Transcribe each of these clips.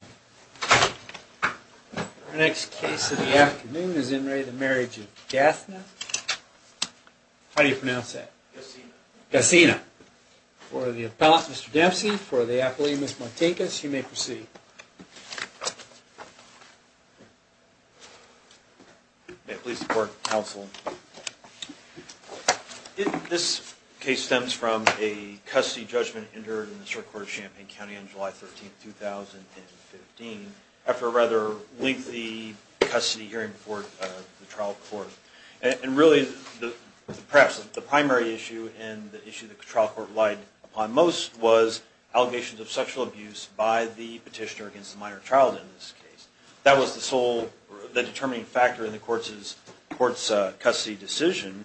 For the appellate Mr. Dempsey, for the appellee Ms. Martinkus, you may proceed. May it please the court and counsel, this case stems from a custody judgment entered in the Supreme Court of Champaign County on July 13, 2015 after a rather lengthy custody hearing before the trial court. And really, perhaps the primary issue and the issue the trial court relied upon most was allegations of sexual abuse by the petitioner against the minor child in this case. That was the sole determining factor in the court's custody decision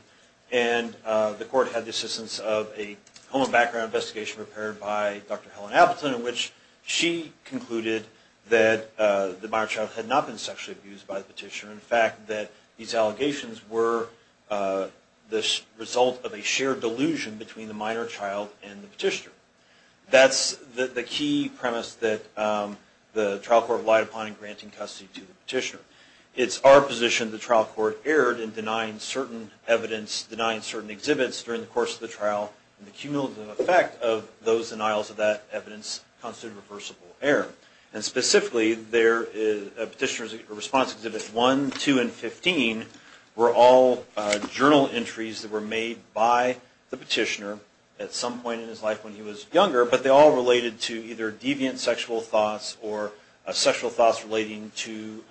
and the court had the assistance of a home and background investigation prepared by Dr. Helen Appleton in which she concluded that the minor child had not been sexually abused by the petitioner. In fact, that these allegations were the result of a shared delusion between the minor child and the petitioner. That's the key premise that the trial court relied upon in granting custody to the petitioner. It's our position the trial court erred in denying certain evidence, denying certain exhibits during the course of the trial and the cumulative effect of those denials of that evidence constitutes reversible error. And specifically, the petitioner's response exhibits 1, 2, and 15 were all journal entries that were made by the petitioner at some point in his life when he was younger, but they all related to either deviant sexual thoughts or sexual thoughts relating to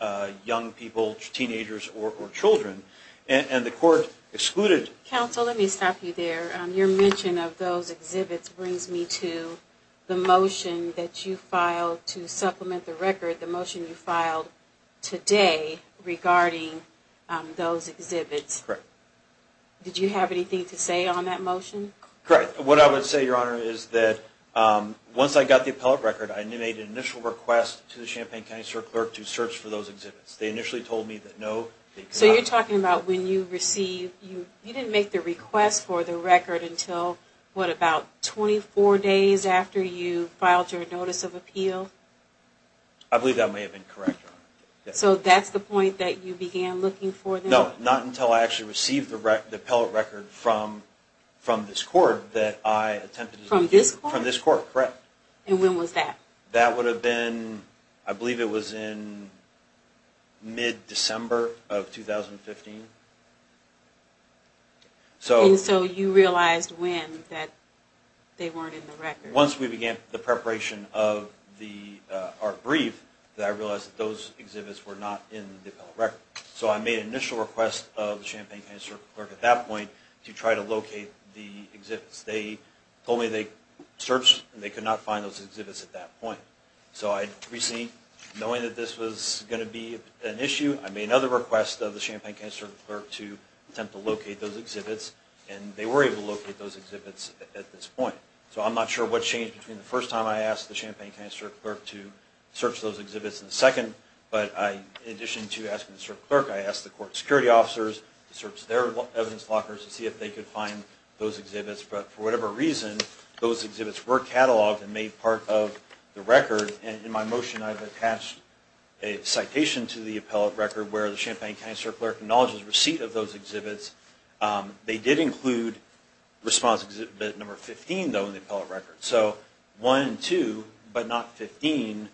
young people, teenagers or children. And the court excluded... Counsel, let me stop you there. Your mention of those exhibits brings me to the motion that you filed to supplement the record, the motion you filed today regarding those exhibits. Correct. Did you have anything to say on that motion? Correct. What I would say, Your Honor, is that once I got the appellate record, I made an initial request to the Champaign County Circle Clerk to search for those exhibits. They initially told me that no... So you're talking about when you received... You didn't make the request for the record until, what, about 24 days after you filed your notice of appeal? I believe that may have been correct, Your Honor. So that's the point that you began looking for them? No, not until I actually received the appellate record from this court that I attempted to... From this court? From this court, correct. And when was that? That would have been, I believe it was in mid-December of 2015. And so you realized when that they weren't in the record? Once we began the preparation of the brief that I realized that those exhibits were not in the appellate record. So I made an initial request of the Champaign County Circle Clerk at that point to try to locate the exhibits. They told me they searched and they could not find those exhibits at that point. So I'd received, knowing that this was going to be an issue, I made another request of the Champaign County Circle Clerk to attempt to locate those exhibits. And they were able to locate those exhibits at this point. So I'm not sure what changed between the first time I asked the Champaign County Circle Clerk to search those exhibits and the second. But in addition to asking the Circle Clerk, I asked the court security officers to search their evidence lockers to see if they could find those exhibits. But for whatever reason, those exhibits were cataloged and made part of the record. And in my motion, I've attached a citation to the appellate record where the Champaign County Circle Clerk acknowledges receipt of those exhibits. They did include response exhibit number 15, though, in the appellate record. So 1 and 2, but not 15,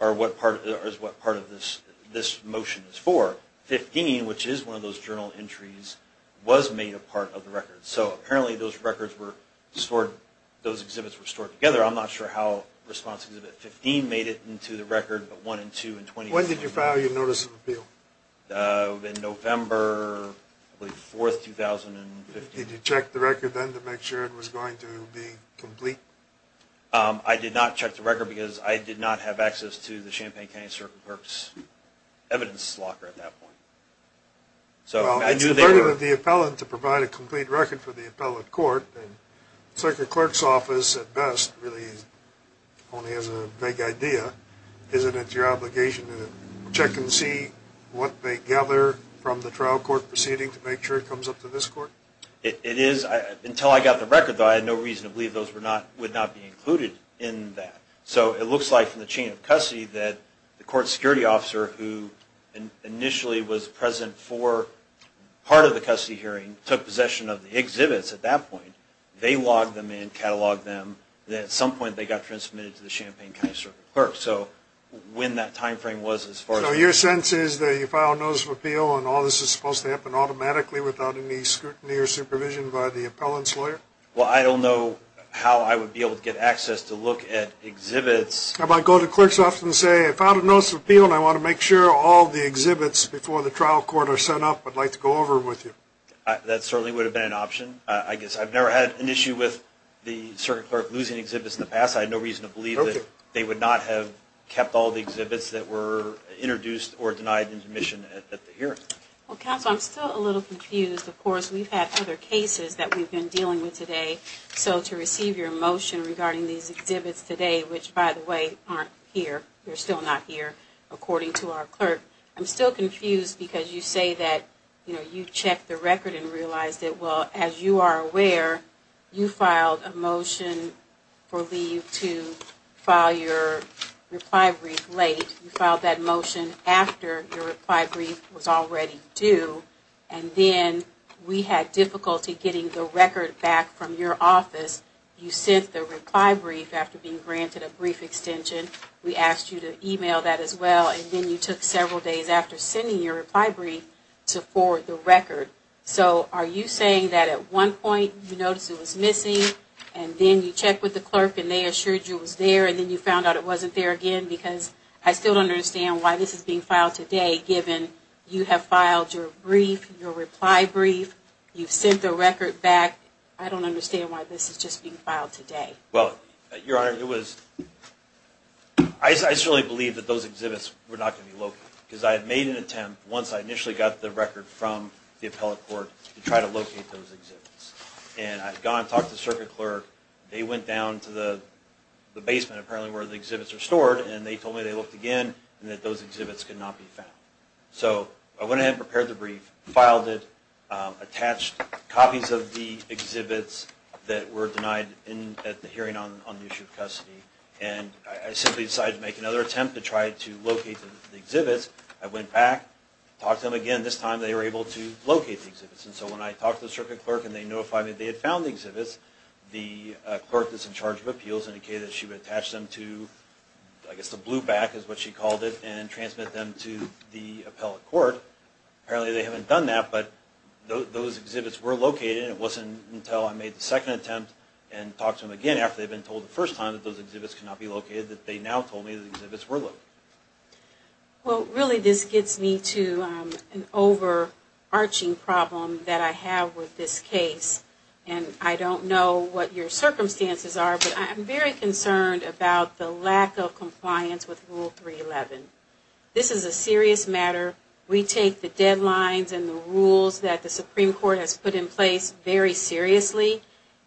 is what part of this motion is for. 15, which is one of those journal entries, was made a part of the record. So apparently those records were stored, those exhibits were stored together. I'm not sure how response exhibit 15 made it into the record, but 1 and 2 and 20. When did you file your notice of appeal? In November 4, 2015. Did you check the record then to make sure it was going to be complete? I did not check the record because I did not have access to the Champaign County Circle Clerk's evidence locker at that point. Well, it's part of the appellate to provide a complete record for the appellate court. The Circle Clerk's office, at best, really only has a vague idea. Isn't it your obligation to check and see what they gather from the trial court proceeding to make sure it comes up to this court? It is. Until I got the record, though, I had no reason to believe those would not be included in that. So it looks like from the chain of custody that the court security officer, who initially was present for part of the custody hearing, took possession of the exhibits at that point. They logged them in, cataloged them, and at some point they got transmitted to the Champaign County Circle Clerk. So when that time frame was, as far as I know... So your sense is that you file a notice of appeal and all this is supposed to happen automatically without any scrutiny or supervision by the appellant's lawyer? Well, I don't know how I would be able to get access to look at exhibits... How about go to the clerk's office and say, I filed a notice of appeal and I want to make sure all the exhibits before the trial court are sent up. I'd like to go over them with you. That certainly would have been an option. I guess I've never had an issue with the Circle Clerk losing exhibits in the past. I had no reason to believe that they would not have kept all the exhibits that were introduced or denied in admission at the hearing. Well, counsel, I'm still a little confused. Of course, we've had other cases that we've been dealing with today. So to receive your motion regarding these exhibits today, which, by the way, aren't here. They're still not here, according to our clerk. I'm still confused because you say that you checked the record and realized it. Well, as you are aware, you filed a motion for leave to file your reply brief late. You filed that motion after your reply brief was already due. And then we had difficulty getting the record back from your office. You sent the reply brief after being granted a brief extension. We asked you to email that as well. And then you took several days after sending your reply brief to forward the record. So are you saying that at one point you noticed it was missing and then you checked with the clerk and they assured you it was there and then you found out it wasn't there again? Because I still don't understand why this is being filed today, given you have filed your brief, your reply brief. You've sent the record back. I don't understand why this is just being filed today. Well, Your Honor, it was – I certainly believed that those exhibits were not going to be located. Because I had made an attempt, once I initially got the record from the appellate court, to try to locate those exhibits. And I had gone and talked to the circuit clerk. They went down to the basement, apparently, where the exhibits are stored. And they told me they looked again and that those exhibits could not be found. So I went ahead and prepared the brief, filed it, attached copies of the exhibits that were denied at the hearing on the issue of custody. And I simply decided to make another attempt to try to locate the exhibits. I went back, talked to them again. This time they were able to locate the exhibits. And so when I talked to the circuit clerk and they notified me they had found the exhibits, the clerk that's in charge of appeals indicated that she would attach them to, I guess, the blue back is what she called it, and transmit them to the appellate court. Apparently, they haven't done that, but those exhibits were located. And it wasn't until I made the second attempt and talked to them again, after they had been told the first time that those exhibits could not be located, that they now told me the exhibits were located. Well, really this gets me to an overarching problem that I have with this case. And I don't know what your circumstances are, but I'm very concerned about the lack of compliance with Rule 311. This is a serious matter. We take the deadlines and the rules that the Supreme Court has put in place very seriously.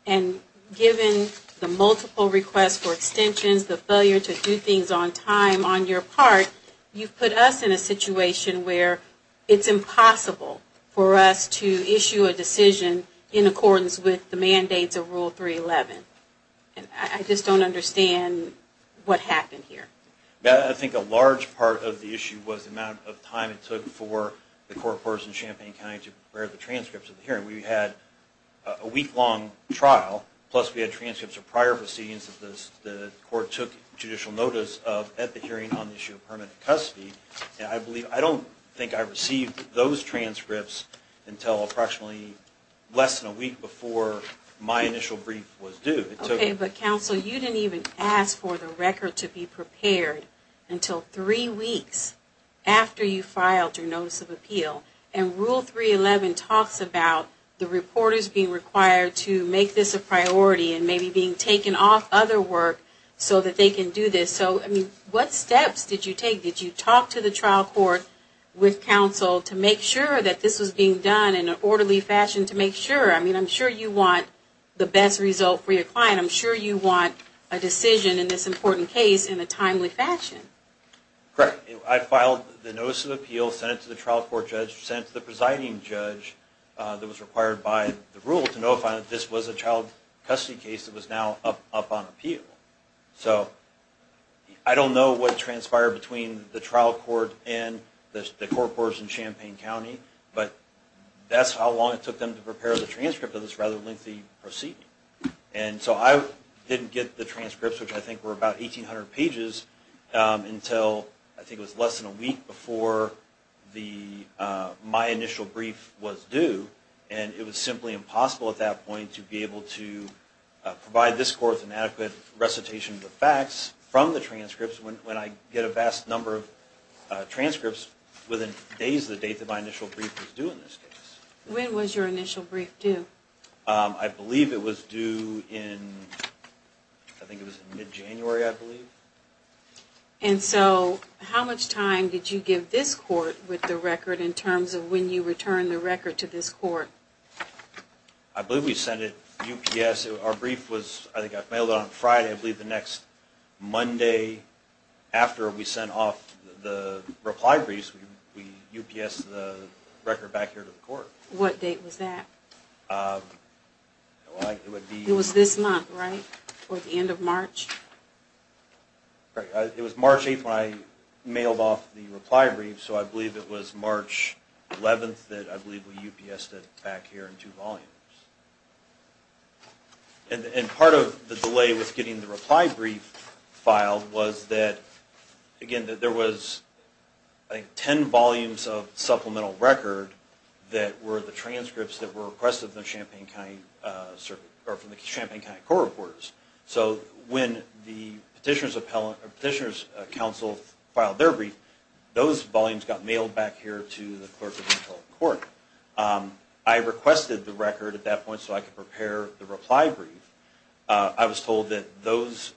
And given the multiple requests for extensions, the failure to do things on time on your part, you've put us in a situation where it's impossible for us to issue a decision in accordance with the mandates of Rule 311. And I just don't understand what happened here. I think a large part of the issue was the amount of time it took for the court courts in Champaign County to prepare the transcripts of the hearing. We had a week-long trial, plus we had transcripts of prior proceedings that the court took judicial notice of at the hearing on the issue of permanent custody. And I don't think I received those transcripts until approximately less than a week before my initial brief was due. Okay, but counsel, you didn't even ask for the record to be prepared until three weeks after you filed your notice of appeal. And Rule 311 talks about the reporters being required to make this a priority and maybe being taken off other work so that they can do this. So, I mean, what steps did you take? Did you talk to the trial court with counsel to make sure that this was being done in an orderly fashion to make sure? I mean, I'm sure you want the best result for your client. I'm sure you want a decision in this important case in a timely fashion. Correct. I filed the notice of appeal, sent it to the trial court judge, sent it to the presiding judge that was required by the rule to notify that this was a child custody case that was now up on appeal. So, I don't know what transpired between the trial court and the court courts in Champaign County, but that's how long it took them to prepare the transcript of this rather lengthy proceeding. And so I didn't get the transcripts, which I think were about 1,800 pages, until I think it was less than a week before my initial brief was due. And it was simply impossible at that point to be able to provide this court with an adequate recitation of the facts from the transcripts when I get a vast number of transcripts within days of the date that my initial brief was due in this case. When was your initial brief due? I believe it was due in, I think it was in mid-January, I believe. And so, how much time did you give this court with the record in terms of when you returned the record to this court? I believe we sent it UPS. Our brief was, I think I mailed it on Friday, I believe the next Monday after we sent off the reply briefs, we UPSed the record back here to the court. What date was that? It was this month, right? Or the end of March? It was March 8th when I mailed off the reply brief, so I believe it was March 11th that I believe we UPSed it back here in two volumes. And part of the delay with getting the reply brief filed was that, again, there was 10 volumes of supplemental record that were the transcripts that were requested from the Champaign County Court of Reports. So when the Petitioner's Council filed their brief, those volumes got mailed back here to the clerk of the Appellate Court. I requested the record at that point so I could prepare the reply brief. I was told that those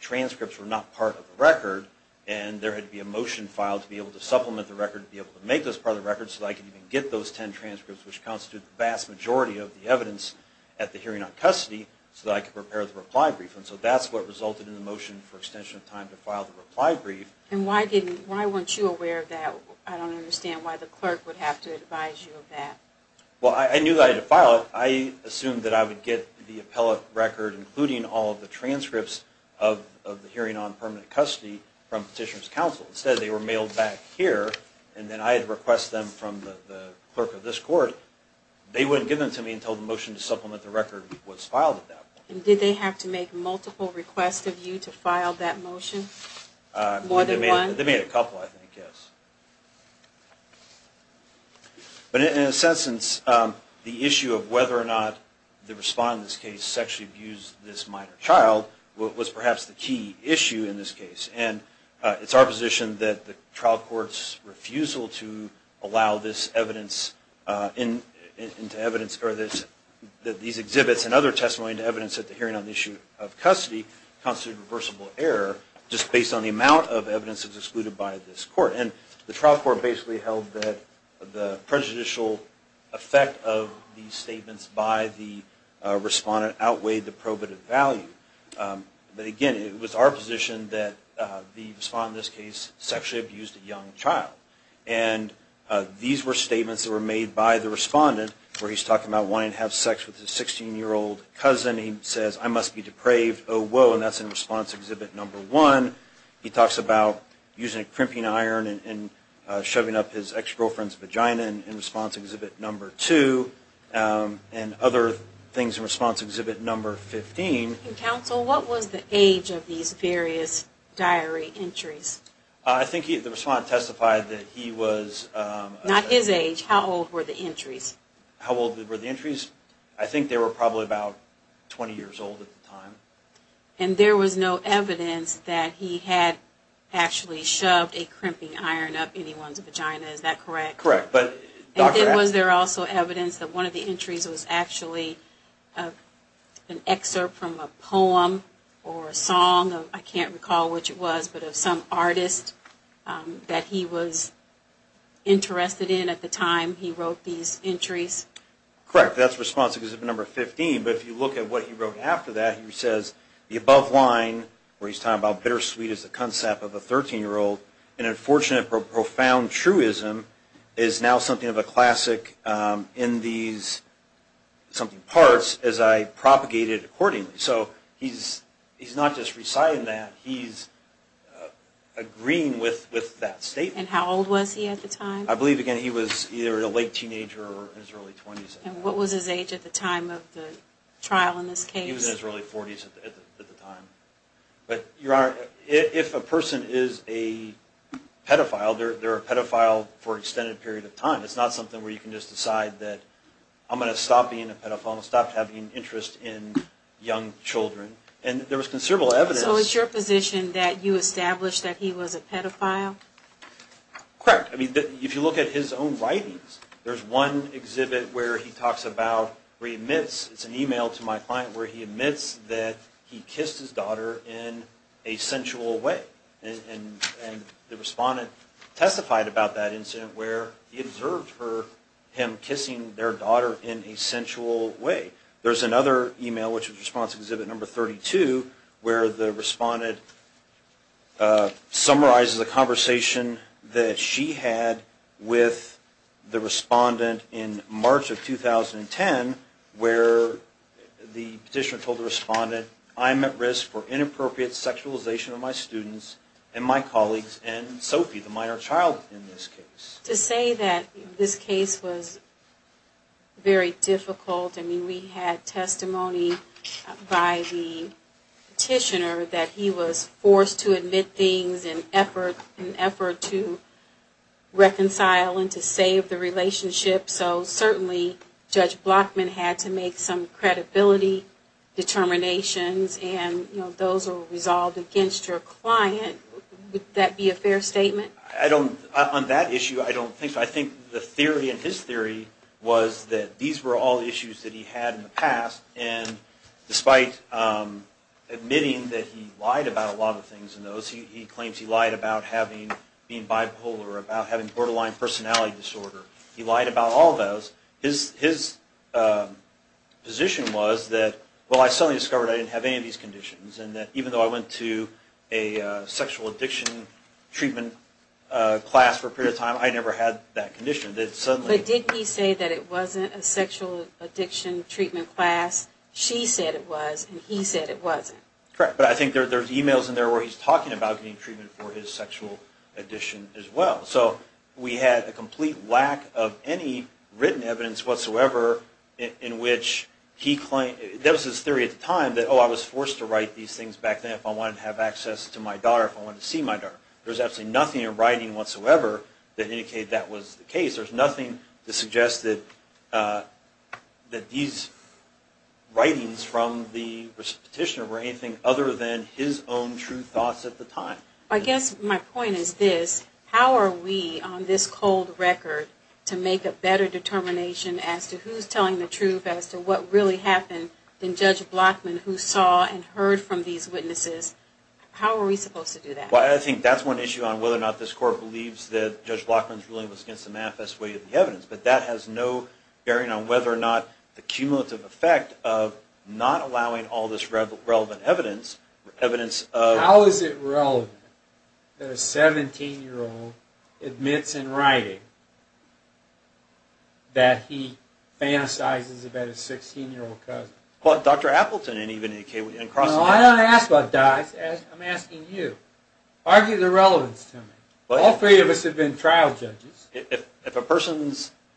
transcripts were not part of the record, and there had to be a motion filed to be able to supplement the record, to be able to make those part of the record, so that I could even get those 10 transcripts, which constitute the vast majority of the evidence at the hearing on custody, so that I could prepare the reply brief. And so that's what resulted in the motion for extension of time to file the reply brief. And why weren't you aware of that? I don't understand why the clerk would have to advise you of that. Well, I knew that I had to file it. I assumed that I would get the appellate record, including all of the transcripts of the hearing on permanent custody, from Petitioner's Council. Instead, they were mailed back here, and then I had to request them from the clerk of this court. They wouldn't give them to me until the motion to supplement the record was filed at that point. And did they have to make multiple requests of you to file that motion? More than one? They made a couple, I think, yes. But in a sense, the issue of whether or not the respondent in this case sexually abused this minor child was perhaps the key issue in this case. And it's our position that the trial court's refusal to allow these exhibits and other testimony to evidence at the hearing on the issue of custody constitutes a reversible error, just based on the amount of evidence that's excluded by this court. And the trial court basically held that the prejudicial effect of these statements by the respondent outweighed the probative value. But again, it was our position that the respondent in this case sexually abused a young child. And these were statements that were made by the respondent, where he's talking about wanting to have sex with his 16-year-old cousin. He says, I must be depraved. Oh, whoa. And that's in response exhibit number one. He talks about using a crimping iron and shoving up his ex-girlfriend's vagina in response exhibit number two. And other things in response exhibit number 15. Counsel, what was the age of these various diary entries? I think the respondent testified that he was... Not his age. How old were the entries? How old were the entries? I think they were probably about 20 years old at the time. And there was no evidence that he had actually shoved a crimping iron up anyone's vagina. Is that correct? Correct. But... Was there also evidence that one of the entries was actually an excerpt from a poem or a song? I can't recall which it was, but of some artist that he was interested in at the time he wrote these entries. Correct. That's response exhibit number 15. But if you look at what he wrote after that, he says, the above line where he's talking about bittersweet is the concept of a 13-year-old. And unfortunate but profound truism is now something of a classic in these parts as I propagate it accordingly. So he's not just reciting that, he's agreeing with that statement. And how old was he at the time? I believe, again, he was either a late teenager or in his early 20s. And what was his age at the time of the trial in this case? He was in his early 40s at the time. But, Your Honor, if a person is a pedophile, they're a pedophile for an extended period of time. It's not something where you can just decide that I'm going to stop being a pedophile and stop having interest in young children. And there was considerable evidence... So it's your position that you established that he was a pedophile? Correct. I mean, if you look at his own writings, there's one exhibit where he talks about, where he admits, it's an email to my client where he admits that he kissed his daughter in a sensual way. And the respondent testified about that incident where he observed him kissing their daughter in a sensual way. There's another email, which is response exhibit number 32, where the respondent summarizes a conversation that she had with the respondent in March of 2010 where the petitioner told the respondent, I'm at risk for inappropriate sexualization of my students and my colleagues and Sophie, the minor child, in this case. To say that this case was very difficult, I mean, we had testimony by the petitioner that he was forced to admit things in an effort to reconcile and to save the relationship. So certainly, Judge Blockman had to make some credibility determinations, and those are resolved against your client. Would that be a fair statement? On that issue, I don't think so. I think the theory in his theory was that these were all issues that he had in the past, and despite admitting that he lied about a lot of things in those, he claims he lied about being bipolar, about having borderline personality disorder. He lied about all of those. His position was that, well, I suddenly discovered I didn't have any of these conditions, and that even though I went to a sexual addiction treatment class for a period of time, I never had that condition. But didn't he say that it wasn't a sexual addiction treatment class? She said it was, and he said it wasn't. Correct, but I think there's emails in there where he's talking about getting treatment for his sexual addiction as well. So we had a complete lack of any written evidence whatsoever in which he claimed, that was his theory at the time, that, oh, I was forced to write these things back then if I wanted to have access to my daughter, if I wanted to see my daughter. There's absolutely nothing in writing whatsoever that indicated that was the case. There's nothing to suggest that these writings from the petitioner were anything other than his own true thoughts at the time. I guess my point is this. How are we, on this cold record, to make a better determination as to who's telling the truth as to what really happened than Judge Blockman, who saw and heard from these witnesses? How are we supposed to do that? Well, I think that's one issue on whether or not this Court believes that Judge Blockman's ruling was against the manifest way of the evidence. But that has no bearing on whether or not the cumulative effect of not allowing all this relevant evidence, How is it relevant that a 17-year-old admits in writing that he fantasizes about his 16-year-old cousin? Well, Dr. Appleton, and even A.K. Wooten, and Crossley. No, I don't ask about Dice. I'm asking you. Argue the relevance to me. All three of us have been trial judges. If a person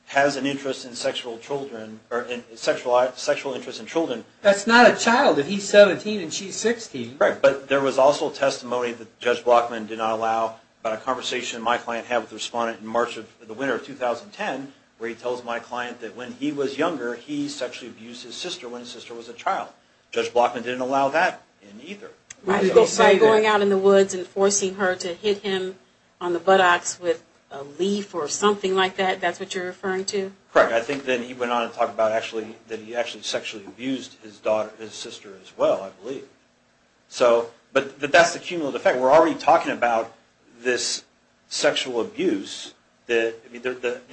has an interest in sexual children, or a sexual interest in children, that's not a child if he's 17 and she's 16. Right, but there was also testimony that Judge Blockman did not allow, about a conversation my client had with a respondent in March of the winter of 2010, where he tells my client that when he was younger, he sexually abused his sister when his sister was a child. Judge Blockman didn't allow that in either. By going out in the woods and forcing her to hit him on the buttocks with a leaf or something like that, that's what you're referring to? Correct. I think then he went on to talk about that he actually sexually abused his sister as well, I believe. But that's the cumulative effect. We're already talking about this sexual abuse. The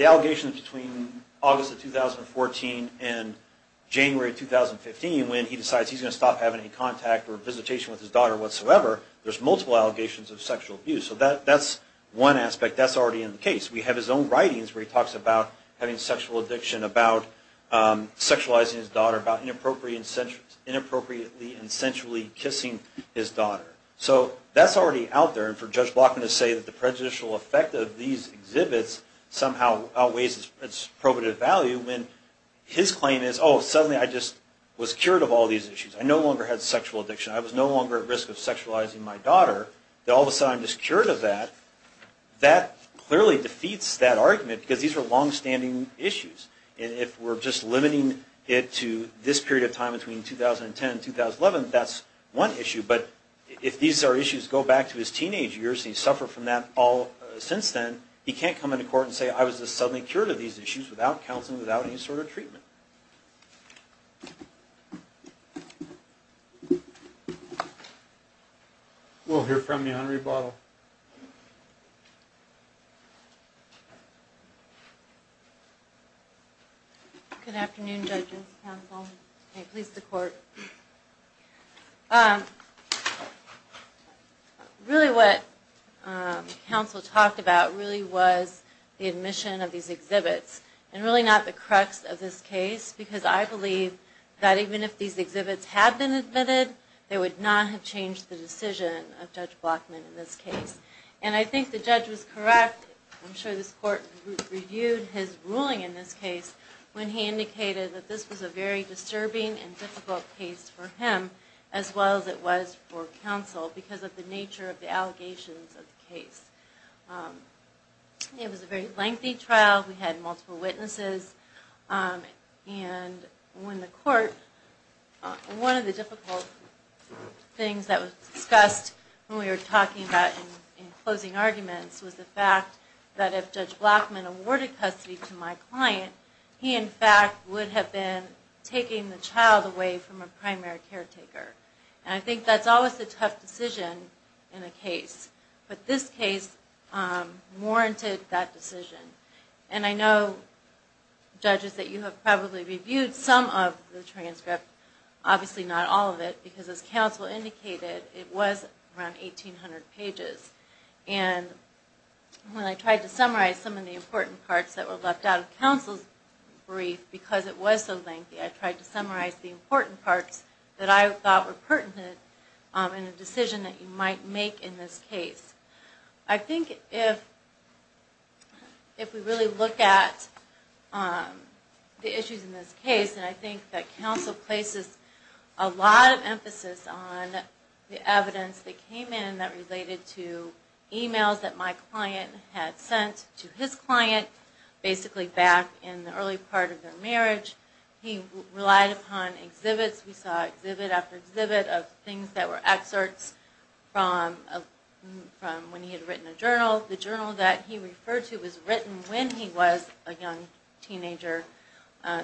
allegations between August of 2014 and January of 2015, when he decides he's going to stop having any contact or visitation with his daughter whatsoever, there's multiple allegations of sexual abuse. So that's one aspect that's already in the case. We have his own writings where he talks about having sexual addiction, about sexualizing his daughter, about inappropriately and sensually kissing his daughter. So that's already out there. And for Judge Blockman to say that the prejudicial effect of these exhibits somehow outweighs its probative value, when his claim is, oh, suddenly I just was cured of all these issues. I no longer had sexual addiction. I was no longer at risk of sexualizing my daughter. All of a sudden I'm just cured of that. That clearly defeats that argument because these are longstanding issues. And if we're just limiting it to this period of time between 2010 and 2011, that's one issue. But if these are issues that go back to his teenage years and he's suffered from that since then, he can't come into court and say I was just suddenly cured of these issues without counseling, without any sort of treatment. We'll hear from you on rebuttal. Good afternoon, judges, counsel, and please the court. Really what counsel talked about really was the admission of these exhibits and really not the crux of this case because I believe that even if these exhibits had been admitted, they would not have changed the decision of Judge Blockman in this case. And I think the judge was correct. I'm sure this court reviewed his ruling in this case when he indicated that this was a very disturbing and difficult case for him as well as it was for counsel because of the nature of the allegations of the case. It was a very lengthy trial. We had multiple witnesses. And when the court, one of the difficult things that was discussed when we were talking about in closing arguments was the fact that if Judge Blockman awarded custody to my client, he in fact would have been taking the child away from a primary caretaker. And I think that's always a tough decision in a case. But this case warranted that decision. And I know, judges, that you have probably reviewed some of the transcript, obviously not all of it, because as counsel indicated, it was around 1,800 pages. And when I tried to summarize some of the important parts that were left out of counsel's brief, because it was so lengthy, I tried to summarize the important parts that I thought were pertinent in a decision that you might make in this case. I think if we really look at the issues in this case, and I think that counsel places a lot of emphasis on the evidence that came in that related to emails that my client had sent to his client, basically back in the early part of their marriage. He relied upon exhibits. We saw exhibit after exhibit of things that were excerpts from when he had written a journal. The journal that he referred to was written when he was a young teenager,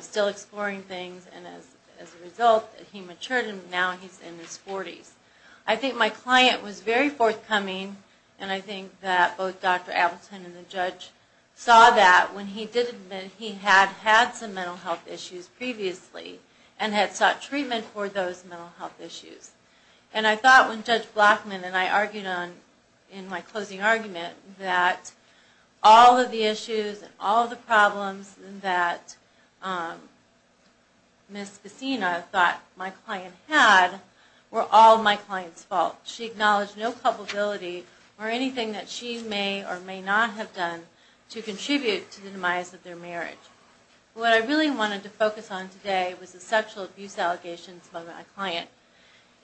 still exploring things. And as a result, he matured, and now he's in his 40s. I think my client was very forthcoming, and I think that both Dr. Appleton and the judge saw that when he did admit he had had some mental health issues previously and had sought treatment for those mental health issues. And I thought when Judge Blackman and I argued in my closing argument that all of the issues and all of the problems that Ms. Cassina thought my client had were all my client's fault. She acknowledged no culpability or anything that she may or may not have done to contribute to the demise of their marriage. What I really wanted to focus on today was the sexual abuse allegations of my client.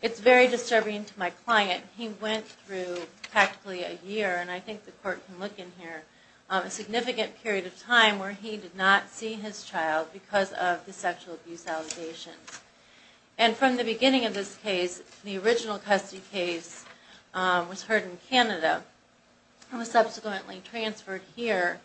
It's very disturbing to my client. He went through practically a year, and I think the court can look in here, a significant period of time where he did not see his child because of the sexual abuse allegations. And from the beginning of this case, the original custody case was heard in Canada and was subsequently transferred here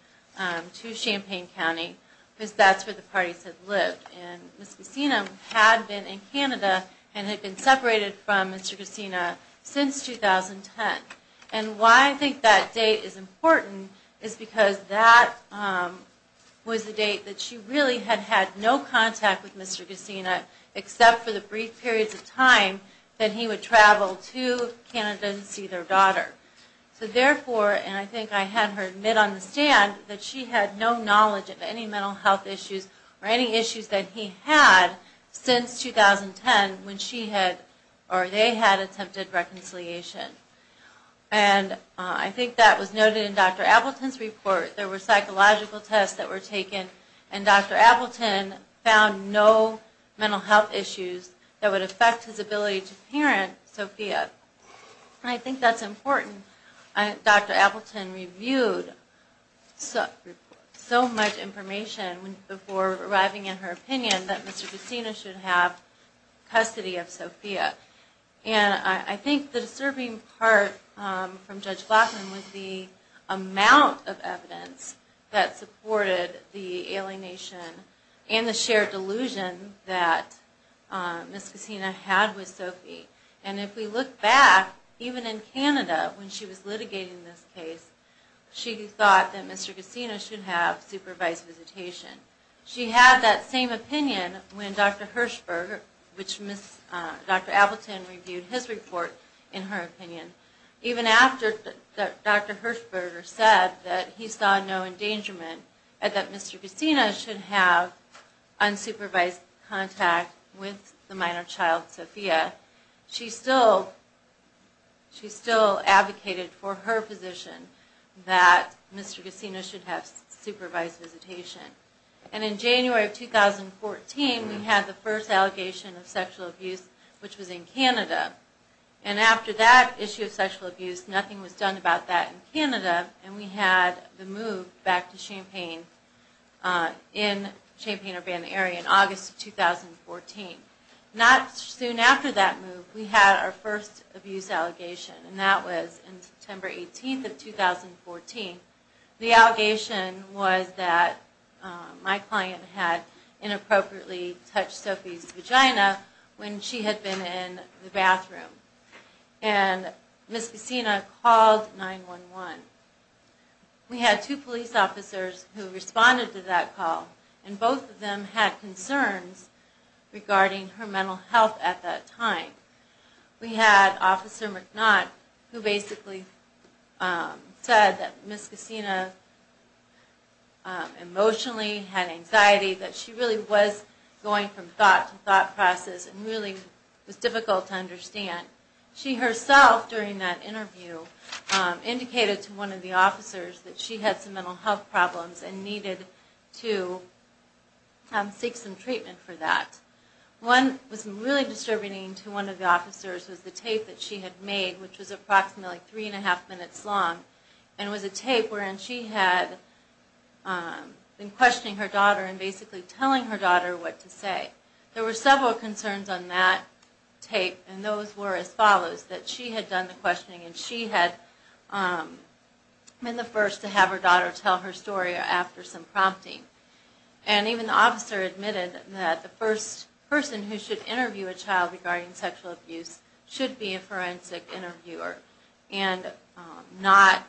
to Champaign County because that's where the parties had lived. And Ms. Cassina had been in Canada and had been separated from Mr. Cassina since 2010. And why I think that date is important is because that was the date that she really had had no contact with Mr. Cassina except for the brief periods of time that he would travel to Canada to see their daughter. So therefore, and I think I had her admit on the stand that she had no knowledge of any mental health issues or any issues that he had since 2010 when she had or they had attempted reconciliation. And I think that was noted in Dr. Appleton's report. There were psychological tests that were taken, and Dr. Appleton found no mental health issues that would affect his ability to parent Sophia. And I think that's important. Dr. Appleton reviewed so much information before arriving at her opinion that Mr. Cassina should have custody of Sophia. And I think the disturbing part from Judge Glassman was the amount of evidence that supported the alienation and the shared delusion that Ms. Cassina had with Sophia. And if we look back, even in Canada when she was litigating this case, she thought that Mr. Cassina should have supervised visitation. She had that same opinion when Dr. Hershberg, which Dr. Appleton reviewed his report in her opinion. Even after Dr. Hershberg said that he saw no endangerment and that Mr. Cassina should have unsupervised contact with the minor child Sophia, she still advocated for her position that Mr. Cassina should have supervised visitation. And in January of 2014, we had the first allegation of sexual abuse, which was in Canada. And after that issue of sexual abuse, nothing was done about that in Canada. And we had the move back to Champaign in Champaign-Urbana area in August of 2014. Not soon after that move, we had our first abuse allegation. And that was in September 18th of 2014. The allegation was that my client had inappropriately touched Sophia's vagina when she had been in the bathroom. And Ms. Cassina called 911. We had two police officers who responded to that call, and both of them had concerns regarding her mental health at that time. We had Officer McNutt, who basically said that Ms. Cassina emotionally had anxiety, that she really was going from thought to thought process and really was difficult to understand. She herself, during that interview, indicated to one of the officers that she had some mental health problems and needed to seek some treatment for that. One that was really disturbing to one of the officers was the tape that she had made, which was approximately three and a half minutes long. And it was a tape wherein she had been questioning her daughter and basically telling her daughter what to say. There were several concerns on that tape, and those were as follows, that she had done the questioning and she had been the first to have her daughter tell her story after some prompting. And even the officer admitted that the first person who should interview a child regarding sexual abuse should be a forensic interviewer and not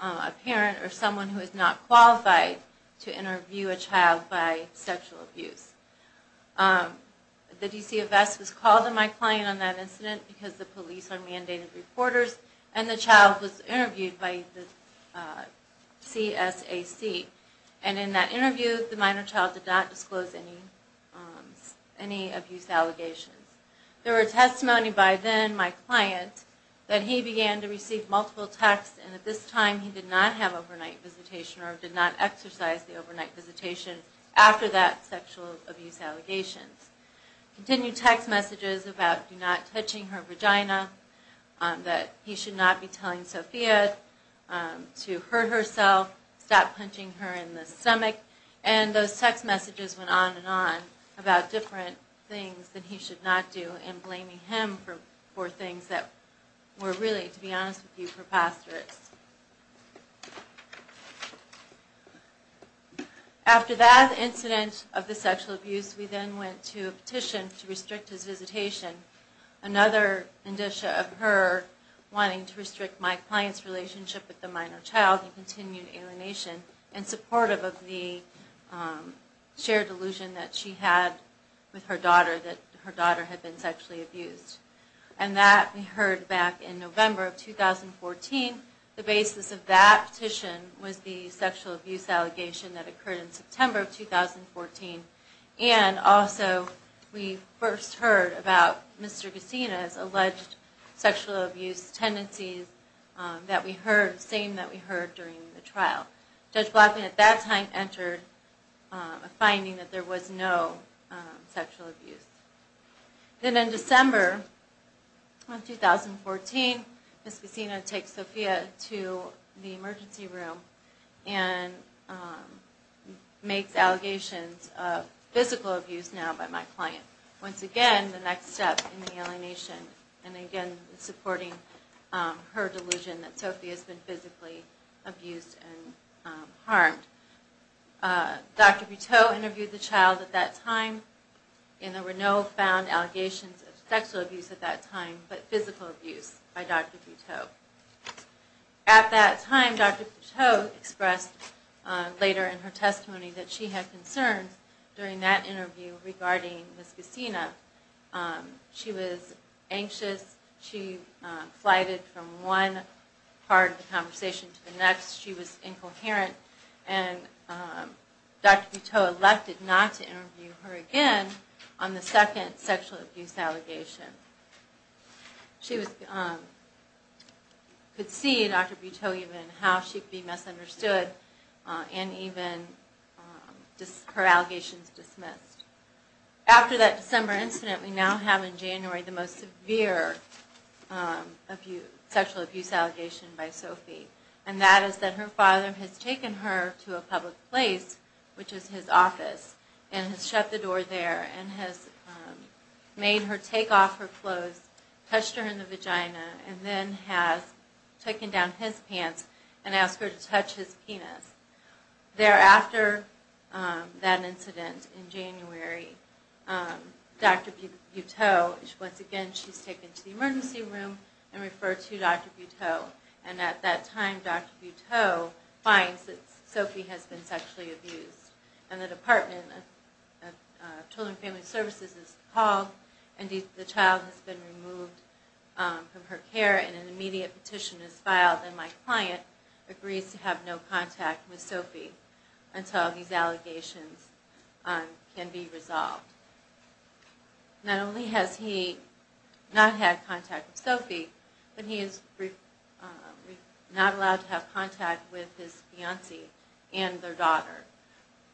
a parent or someone who is not qualified to interview a child by sexual abuse. The DCFS was called on my client on that incident because the police are mandated reporters, and the child was interviewed by the CSAC. And in that interview, the minor child did not disclose any abuse allegations. There were testimony by then, my client, that he began to receive multiple texts and at this time he did not have overnight visitation or did not exercise the overnight visitation after that sexual abuse allegations. Continued text messages about do not touching her vagina, that he should not be telling Sophia to hurt herself, stop punching her in the stomach, and those text messages went on and on about different things that he should not do and blaming him for things that were really, to be honest with you, preposterous. After that incident of the sexual abuse, we then went to a petition to restrict his visitation. Another indicia of her wanting to restrict my client's relationship with the minor child, and continued alienation in support of the shared delusion that she had with her daughter, that her daughter had been sexually abused. And that we heard back in November of 2014. The basis of that petition was the sexual abuse allegation that occurred in September of 2014. And also we first heard about Mr. Gesina's alleged sexual abuse tendencies that we heard, the same that we heard during the trial. Judge Blackman at that time entered a finding that there was no sexual abuse. Then in December of 2014, Mr. Gesina takes Sophia to the emergency room and makes allegations of physical abuse now by my client. Once again, the next step in the alienation. And again, supporting her delusion that Sophia has been physically abused and harmed. Dr. Butteau interviewed the child at that time, and there were no found allegations of sexual abuse at that time, but physical abuse by Dr. Butteau. At that time, Dr. Butteau expressed later in her testimony that she had concerns during that interview regarding Ms. Gesina. She was anxious. She flighted from one part of the conversation to the next. She was incoherent. And Dr. Butteau elected not to interview her again on the second sexual abuse allegation. She could see, Dr. Butteau, even how she could be misunderstood and even her allegations dismissed. After that December incident, we now have in January the most severe sexual abuse allegation by Sophie. And that is that her father has taken her to a public place, which is his office, and has shut the door there and has made her take off her clothes, touched her in the vagina, and then has taken down his pants and asked her to touch his penis. Thereafter, that incident in January, Dr. Butteau, once again, she's taken to the emergency room and referred to Dr. Butteau. And at that time, Dr. Butteau finds that Sophie has been sexually abused. And the Department of Children and Family Services is called, and the child has been removed from her care, and an immediate petition is filed, and my client agrees to have no contact with Sophie until these allegations can be resolved. Not only has he not had contact with Sophie, but he is not allowed to have contact with his fiancée and their daughter,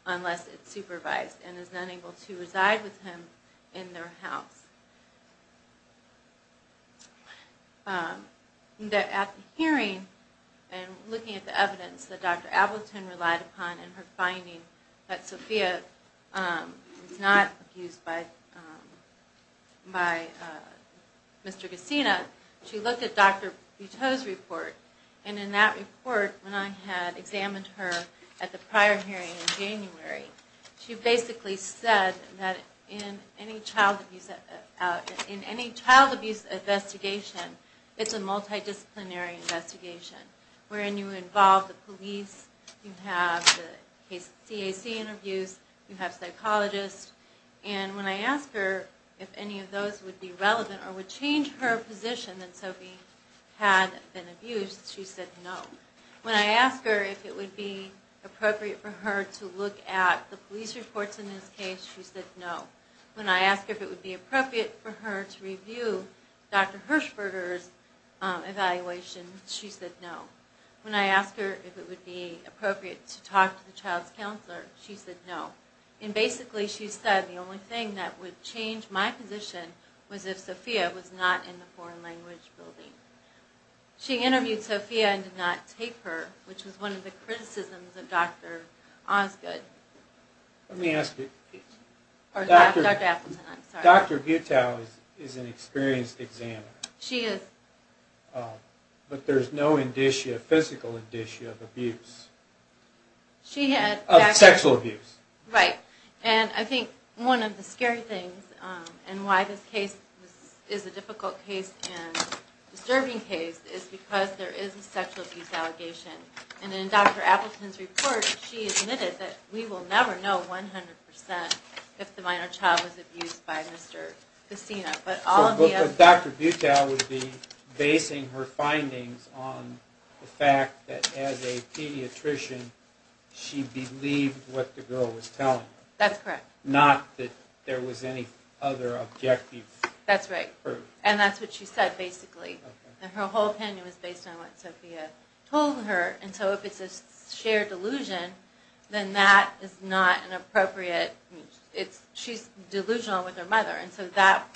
unless it's supervised, and is not able to reside with him in their house. At the hearing, and looking at the evidence that Dr. Ableton relied upon in her finding that Sophie was not abused by Mr. Gesina, she looked at Dr. Butteau's report, and in that report, when I had examined her at the prior hearing in January, she basically said that in any child abuse investigation, it's a multidisciplinary investigation, wherein you involve the police, you have the CAC interviews, you have psychologists, and when I asked her if any of those would be relevant, or would change her position that Sophie had been abused, she said no. When I asked her if it would be appropriate for her to look at the police reports in this case, she said no. When I asked her if it would be appropriate for her to review Dr. Hershberger's evaluation, she said no. When I asked her if it would be appropriate to talk to the child's counselor, she said no. And basically she said the only thing that would change my position was if Sophia was not in the foreign language building. She interviewed Sophia and did not take her, which was one of the criticisms of Dr. Osgood. Let me ask you. Dr. Butteau is an experienced examiner. She is. But there's no indicia, physical indicia, of abuse. Of sexual abuse. Right. And I think one of the scary things, and why this case is a difficult case and disturbing case, is because there is a sexual abuse allegation. And in Dr. Appleton's report, she admitted that we will never know 100% if the minor child was abused by Mr. Cassina. So Dr. Butteau would be basing her findings on the fact that as a pediatrician, she believed what the girl was telling her. That's correct. Not that there was any other objective proof. That's right. And that's what she said, basically. And her whole opinion was based on what Sophia told her. And so if it's a shared delusion, then that is not an appropriate, she's delusional with her mother. And so that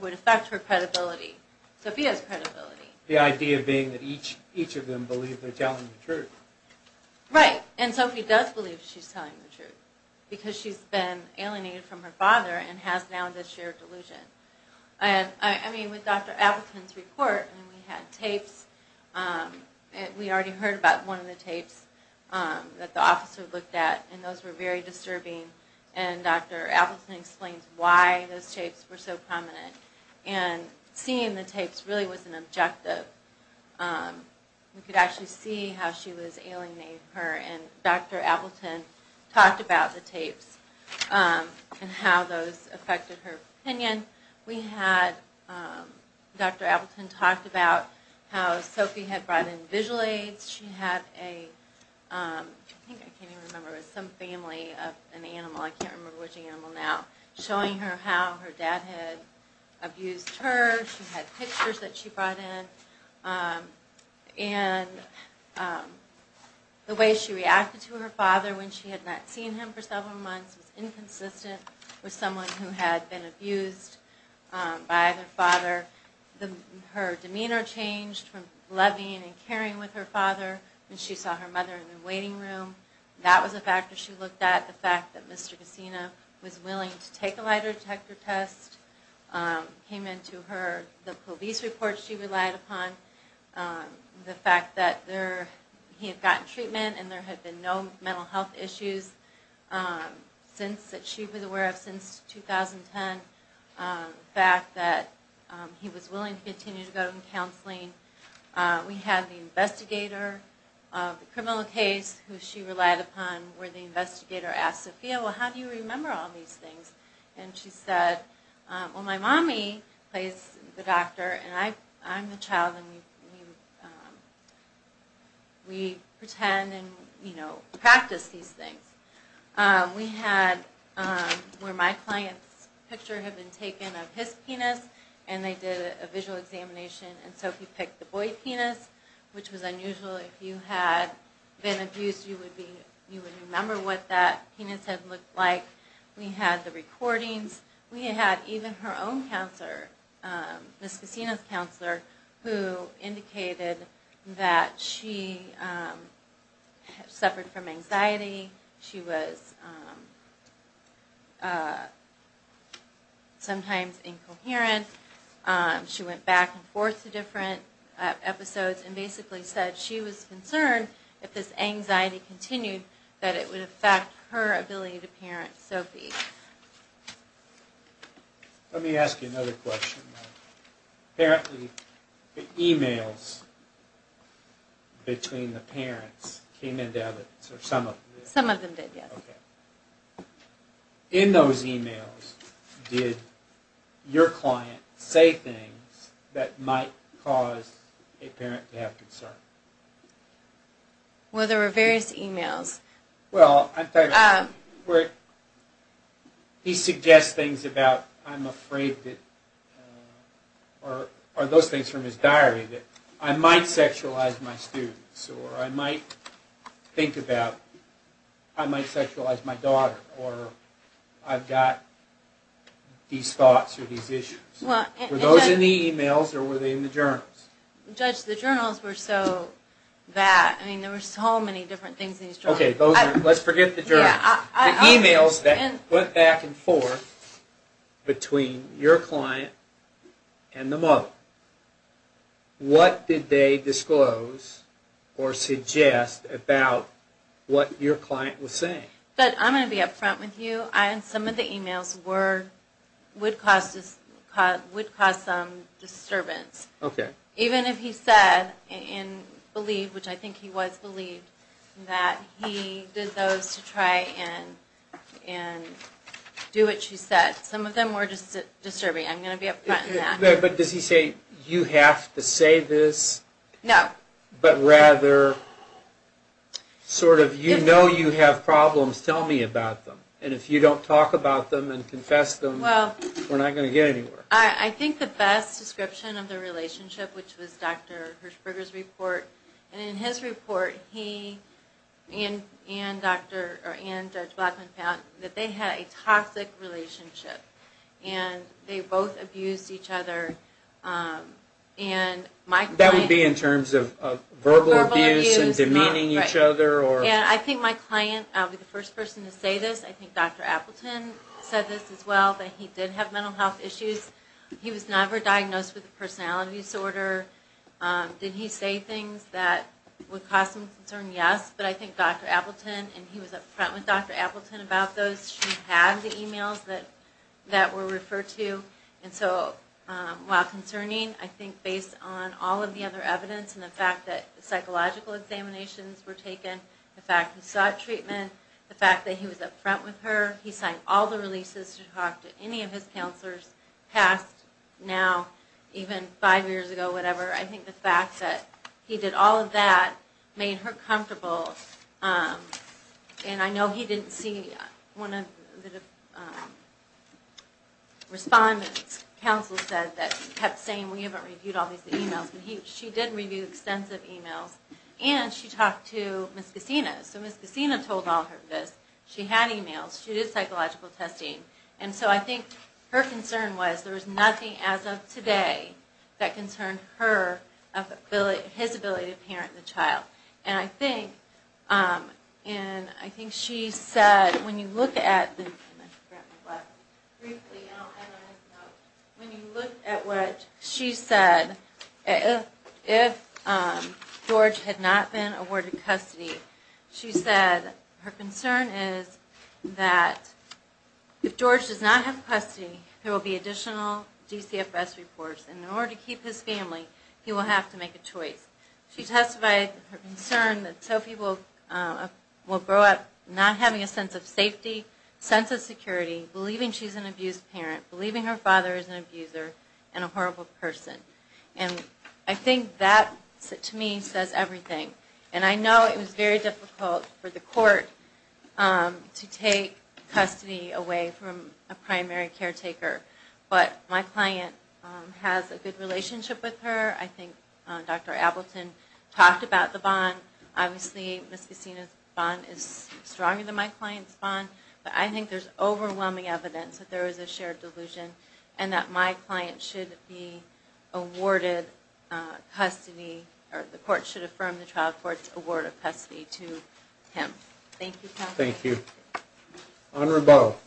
would affect her credibility, Sophia's credibility. The idea being that each of them believe they're telling the truth. Right. And Sophie does believe she's telling the truth, because she's been alienated from her father and has now this shared delusion. And, I mean, with Dr. Appleton's report, we had tapes. We already heard about one of the tapes that the officer looked at, and those were very disturbing. And Dr. Appleton explains why those tapes were so prominent. And seeing the tapes really was an objective. We could actually see how she was alienated from her, and Dr. Appleton talked about the tapes and how those affected her opinion. We had Dr. Appleton talk about how Sophie had brought in visual aids. She had a, I think I can't even remember, some family of an animal, I can't remember which animal now, showing her how her dad had abused her. She had pictures that she brought in. And the way she reacted to her father when she had not seen him for several months was inconsistent with someone who had been abused by their father. Her demeanor changed from loving and caring with her father when she saw her mother in the waiting room. That was a factor she looked at. The fact that Mr. Cassino was willing to take a lie detector test came into the police report she relied upon. The fact that he had gotten treatment and there had been no mental health issues that she was aware of since 2010. The fact that he was willing to continue to go to counseling. We had the investigator of the criminal case who she relied upon where the investigator asked Sophia, well how do you remember all these things? And she said, well my mommy plays the doctor and I'm the child and we pretend and practice these things. We had where my client's picture had been taken of his penis and they did a visual examination and Sophie picked the boy's penis which was unusual. If you had been abused you would remember what that penis had looked like. We had the recordings. who indicated that she suffered from anxiety. She was sometimes incoherent. She went back and forth to different episodes and basically said she was concerned if this anxiety continued that it would affect her ability to parent Sophie. Let me ask you another question. Apparently the e-mails between the parents came in to evidence or some of them. Some of them did, yes. In those e-mails did your client say things that might cause a parent to have concern? Well there were various e-mails. Well he suggests things about I'm afraid or those things from his diary that I might sexualize my students or I might think about I might sexualize my daughter or I've got these thoughts or these issues. Were those in the e-mails or were they in the journals? Judge, the journals were so vast. There were so many different things in these journals. Okay, let's forget the journals. The e-mails that went back and forth between your client and the mother, what did they disclose or suggest about what your client was saying? I'm going to be up front with you. Some of the e-mails would cause some disturbance. Even if he said and believed, which I think he was believed, that he did those to try and do what she said. Some of them were just disturbing. I'm going to be up front in that. But does he say you have to say this? No. But rather sort of you know you have problems, tell me about them. And if you don't talk about them and confess them, we're not going to get anywhere. I think the best description of their relationship, which was Dr. Hirshberger's report, and in his report he and Judge Blackman found that they had a toxic relationship. And they both abused each other. That would be in terms of verbal abuse and demeaning each other? I think my client, I'll be the first person to say this, I think Dr. Appleton said this as well, that he did have mental health issues. He was never diagnosed with a personality disorder. Did he say things that would cause some concern? Yes. But I think Dr. Appleton, and he was up front with Dr. Appleton about those. She had the e-mails that were referred to. And so while concerning, I think based on all of the other evidence and the fact that psychological examinations were taken, the fact that he sought treatment, the fact that he was up front with her, he signed all the releases to talk to any of his counselors, past, now, even five years ago, whatever. I think the fact that he did all of that made her comfortable. And I know he didn't see one of the respondents, counsel said, that kept saying, we haven't reviewed all these e-mails. But she did review extensive e-mails. And she talked to Ms. Gacina. So Ms. Gacina told all of this. She had e-mails. She did psychological testing. And so I think her concern was there was nothing as of today that concerned his ability to parent the child. And I think she said, when you look at what she said, if George had not been awarded custody, she said her concern is that if George does not have custody, there will be additional DCFS reports. And in order to keep his family, he will have to make a choice. She testified her concern that Sophie will grow up not having a sense of safety, sense of security, believing she's an abused parent, believing her father is an abuser, and a horrible person. And I think that, to me, says everything. And I know it was very difficult for the court to take custody away from a primary caretaker. But my client has a good relationship with her. I think Dr. Appleton talked about the bond. Obviously, Ms. Gacina's bond is stronger than my client's bond. But I think there's overwhelming evidence that there is a shared delusion and that my client should be awarded custody or the court should affirm the trial court's award of custody to him. Thank you, counsel. Thank you. Honorable.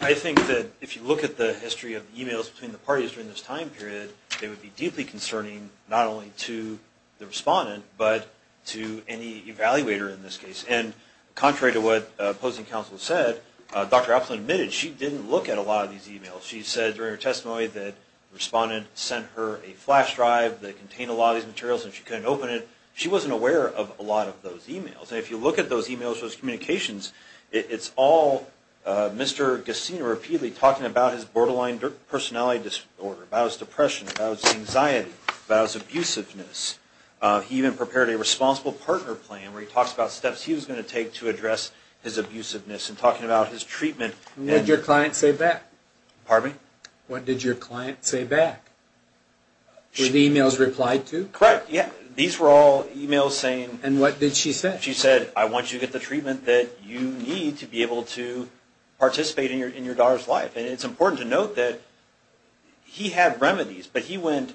I think that if you look at the history of emails between the parties during this time period, they would be deeply concerning not only to the respondent but to any evaluator in this case. And contrary to what opposing counsel said, Dr. Appleton admitted she didn't look at a lot of these emails. She said during her testimony that the respondent sent her a flash drive that contained a lot of these materials and she couldn't open it. She wasn't aware of a lot of those emails. And if you look at those emails, those communications, it's all Mr. Gacina repeatedly talking about his borderline personality disorder, about his depression, about his anxiety, about his abusiveness. He even prepared a responsible partner plan where he talks about steps he was going to take to address his abusiveness and talking about his treatment. And what did your client say back? Pardon me? What did your client say back? Were the emails replied to? Correct. Yeah. These were all emails saying... And what did she say? She said, I want you to get the treatment that you need to be able to participate in your daughter's life. And it's important to note that he had remedies, but he went,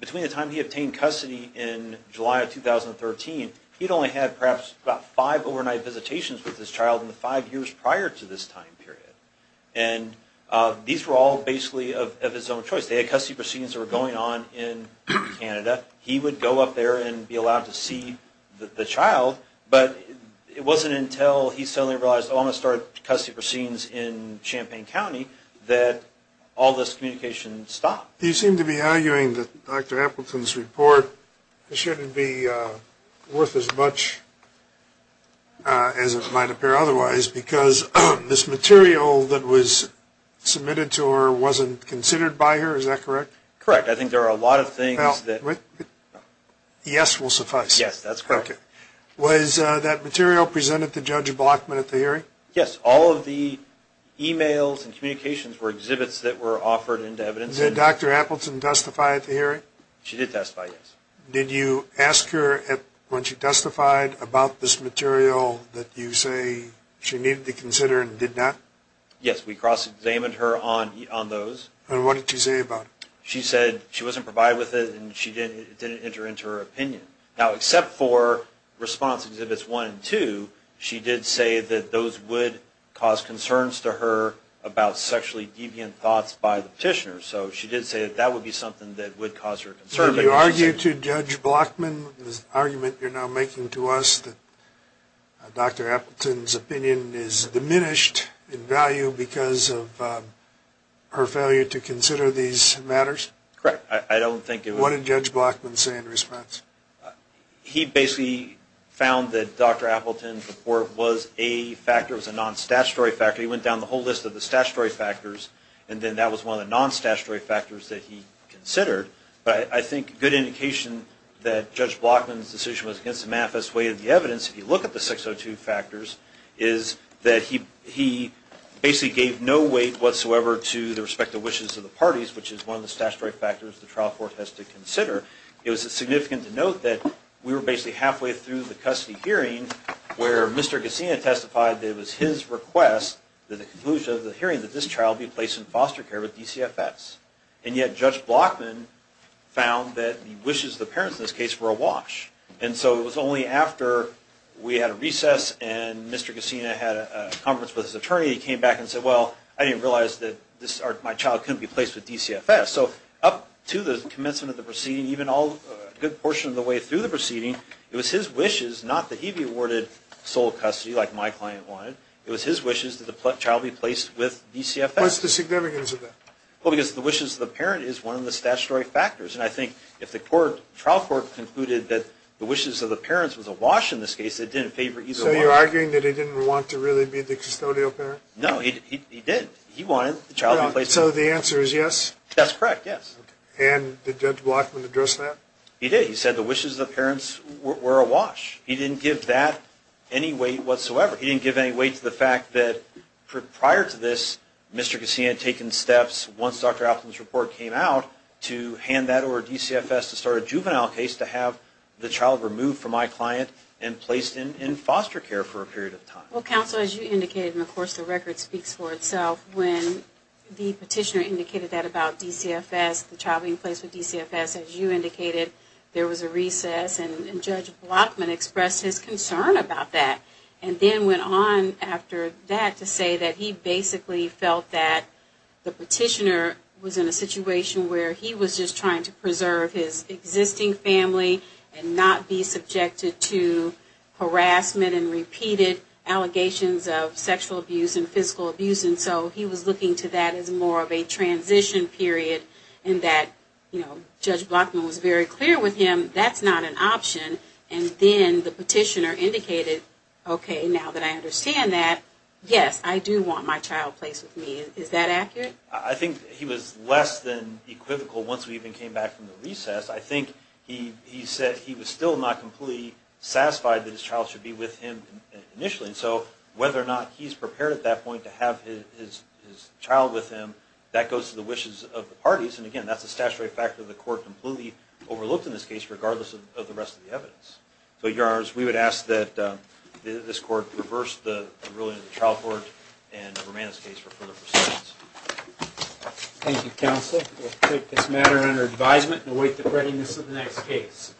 between the time he obtained custody in July of 2013, he'd only had perhaps about five overnight visitations with his child in the five years prior to this time period. And these were all basically of his own choice. They had custody proceedings that were going on in Canada. He would go up there and be allowed to see the child, but it wasn't until he suddenly realized, oh, I'm going to start custody proceedings in Champaign County, that all this communication stopped. You seem to be arguing that Dr. Appleton's report shouldn't be worth as much as it might appear otherwise, because this material that was submitted to her wasn't considered by her. Is that correct? Correct. I think there are a lot of things that... Yes will suffice. Yes, that's correct. Okay. Was that material presented to Judge Blockman at the hearing? Yes. All of the emails and communications were exhibits that were offered into evidence. Did Dr. Appleton testify at the hearing? She did testify, yes. Did you ask her when she testified about this material that you say she needed to consider and did not? Yes, we cross-examined her on those. And what did she say about it? She said she wasn't provided with it and it didn't enter into her opinion. Now, except for response exhibits one and two, she did say that those would cause concerns to her about sexually deviant thoughts by the petitioner. So she did say that that would be something that would cause her concern. Did you argue to Judge Blockman, this argument you're now making to us, that Dr. Appleton's opinion is diminished in value because of her failure to consider these matters? Correct. I don't think it was... What did Judge Blockman say in response? He basically found that Dr. Appleton's report was a factor, was a non-statutory factor. He went down the whole list of the statutory factors and then that was one of the non-statutory factors that he considered. But I think a good indication that Judge Blockman's decision was against the manifest way of the evidence, if you look at the 602 factors, is that he basically gave no weight whatsoever to the respective wishes of the parties, which is one of the statutory factors the trial court has to consider. It was significant to note that we were basically halfway through the custody hearing where Mr. Gesina testified that it was his request that the conclusion of the hearing that this child be placed in foster care with DCFS. And yet Judge Blockman found that the wishes of the parents in this case were awash. And so it was only after we had a recess and Mr. Gesina had a conference with his attorney, he came back and said, well, I didn't realize that my child couldn't be placed with DCFS. So up to the commencement of the proceeding, even a good portion of the way through the proceeding, it was his wishes not that he be awarded sole custody like my client wanted. It was his wishes that the child be placed with DCFS. What's the significance of that? Well, because the wishes of the parent is one of the statutory factors. And I think if the trial court concluded that the wishes of the parents was awash in this case, it didn't favor either one. So you're arguing that he didn't want to really be the custodial parent? No, he did. He wanted the child to be placed. So the answer is yes? That's correct, yes. And did Judge Blockman address that? He did. He said the wishes of the parents were awash. He didn't give that any weight whatsoever. He didn't give any weight to the fact that prior to this, Mr. Gesina had taken steps, once Dr. Appleton's report came out, to hand that over to DCFS to start a juvenile case to have the child removed from my client and placed in foster care for a period of time. Well, counsel, as you indicated, and of course the record speaks for itself, when the petitioner indicated that about DCFS, the child being placed with DCFS, as you indicated, there was a recess and Judge Blockman expressed his concern about that and then went on after that to say that he basically felt that the petitioner was in a situation where he was just trying to preserve his existing family and not be subjected to harassment and repeated allegations of sexual abuse and physical abuse. And so he was looking to that as more of a transition period and that, you know, Judge Blockman was very clear with him that's not an option. And then the petitioner indicated, okay, now that I understand that, yes, I do want my child placed with me. Is that accurate? I think he was less than equivocal once we even came back from the recess. I think he said he was still not completely satisfied that his child should be with him initially. And so whether or not he's prepared at that point to have his child with him, that goes to the wishes of the parties. And, again, that's a statutory factor the court completely overlooked in this case regardless of the rest of the evidence. So, Your Honors, we would ask that this court reverse the ruling of the trial court and remand this case for further proceedings. Thank you, counsel. We'll take this matter under advisement and await the readiness of the next case.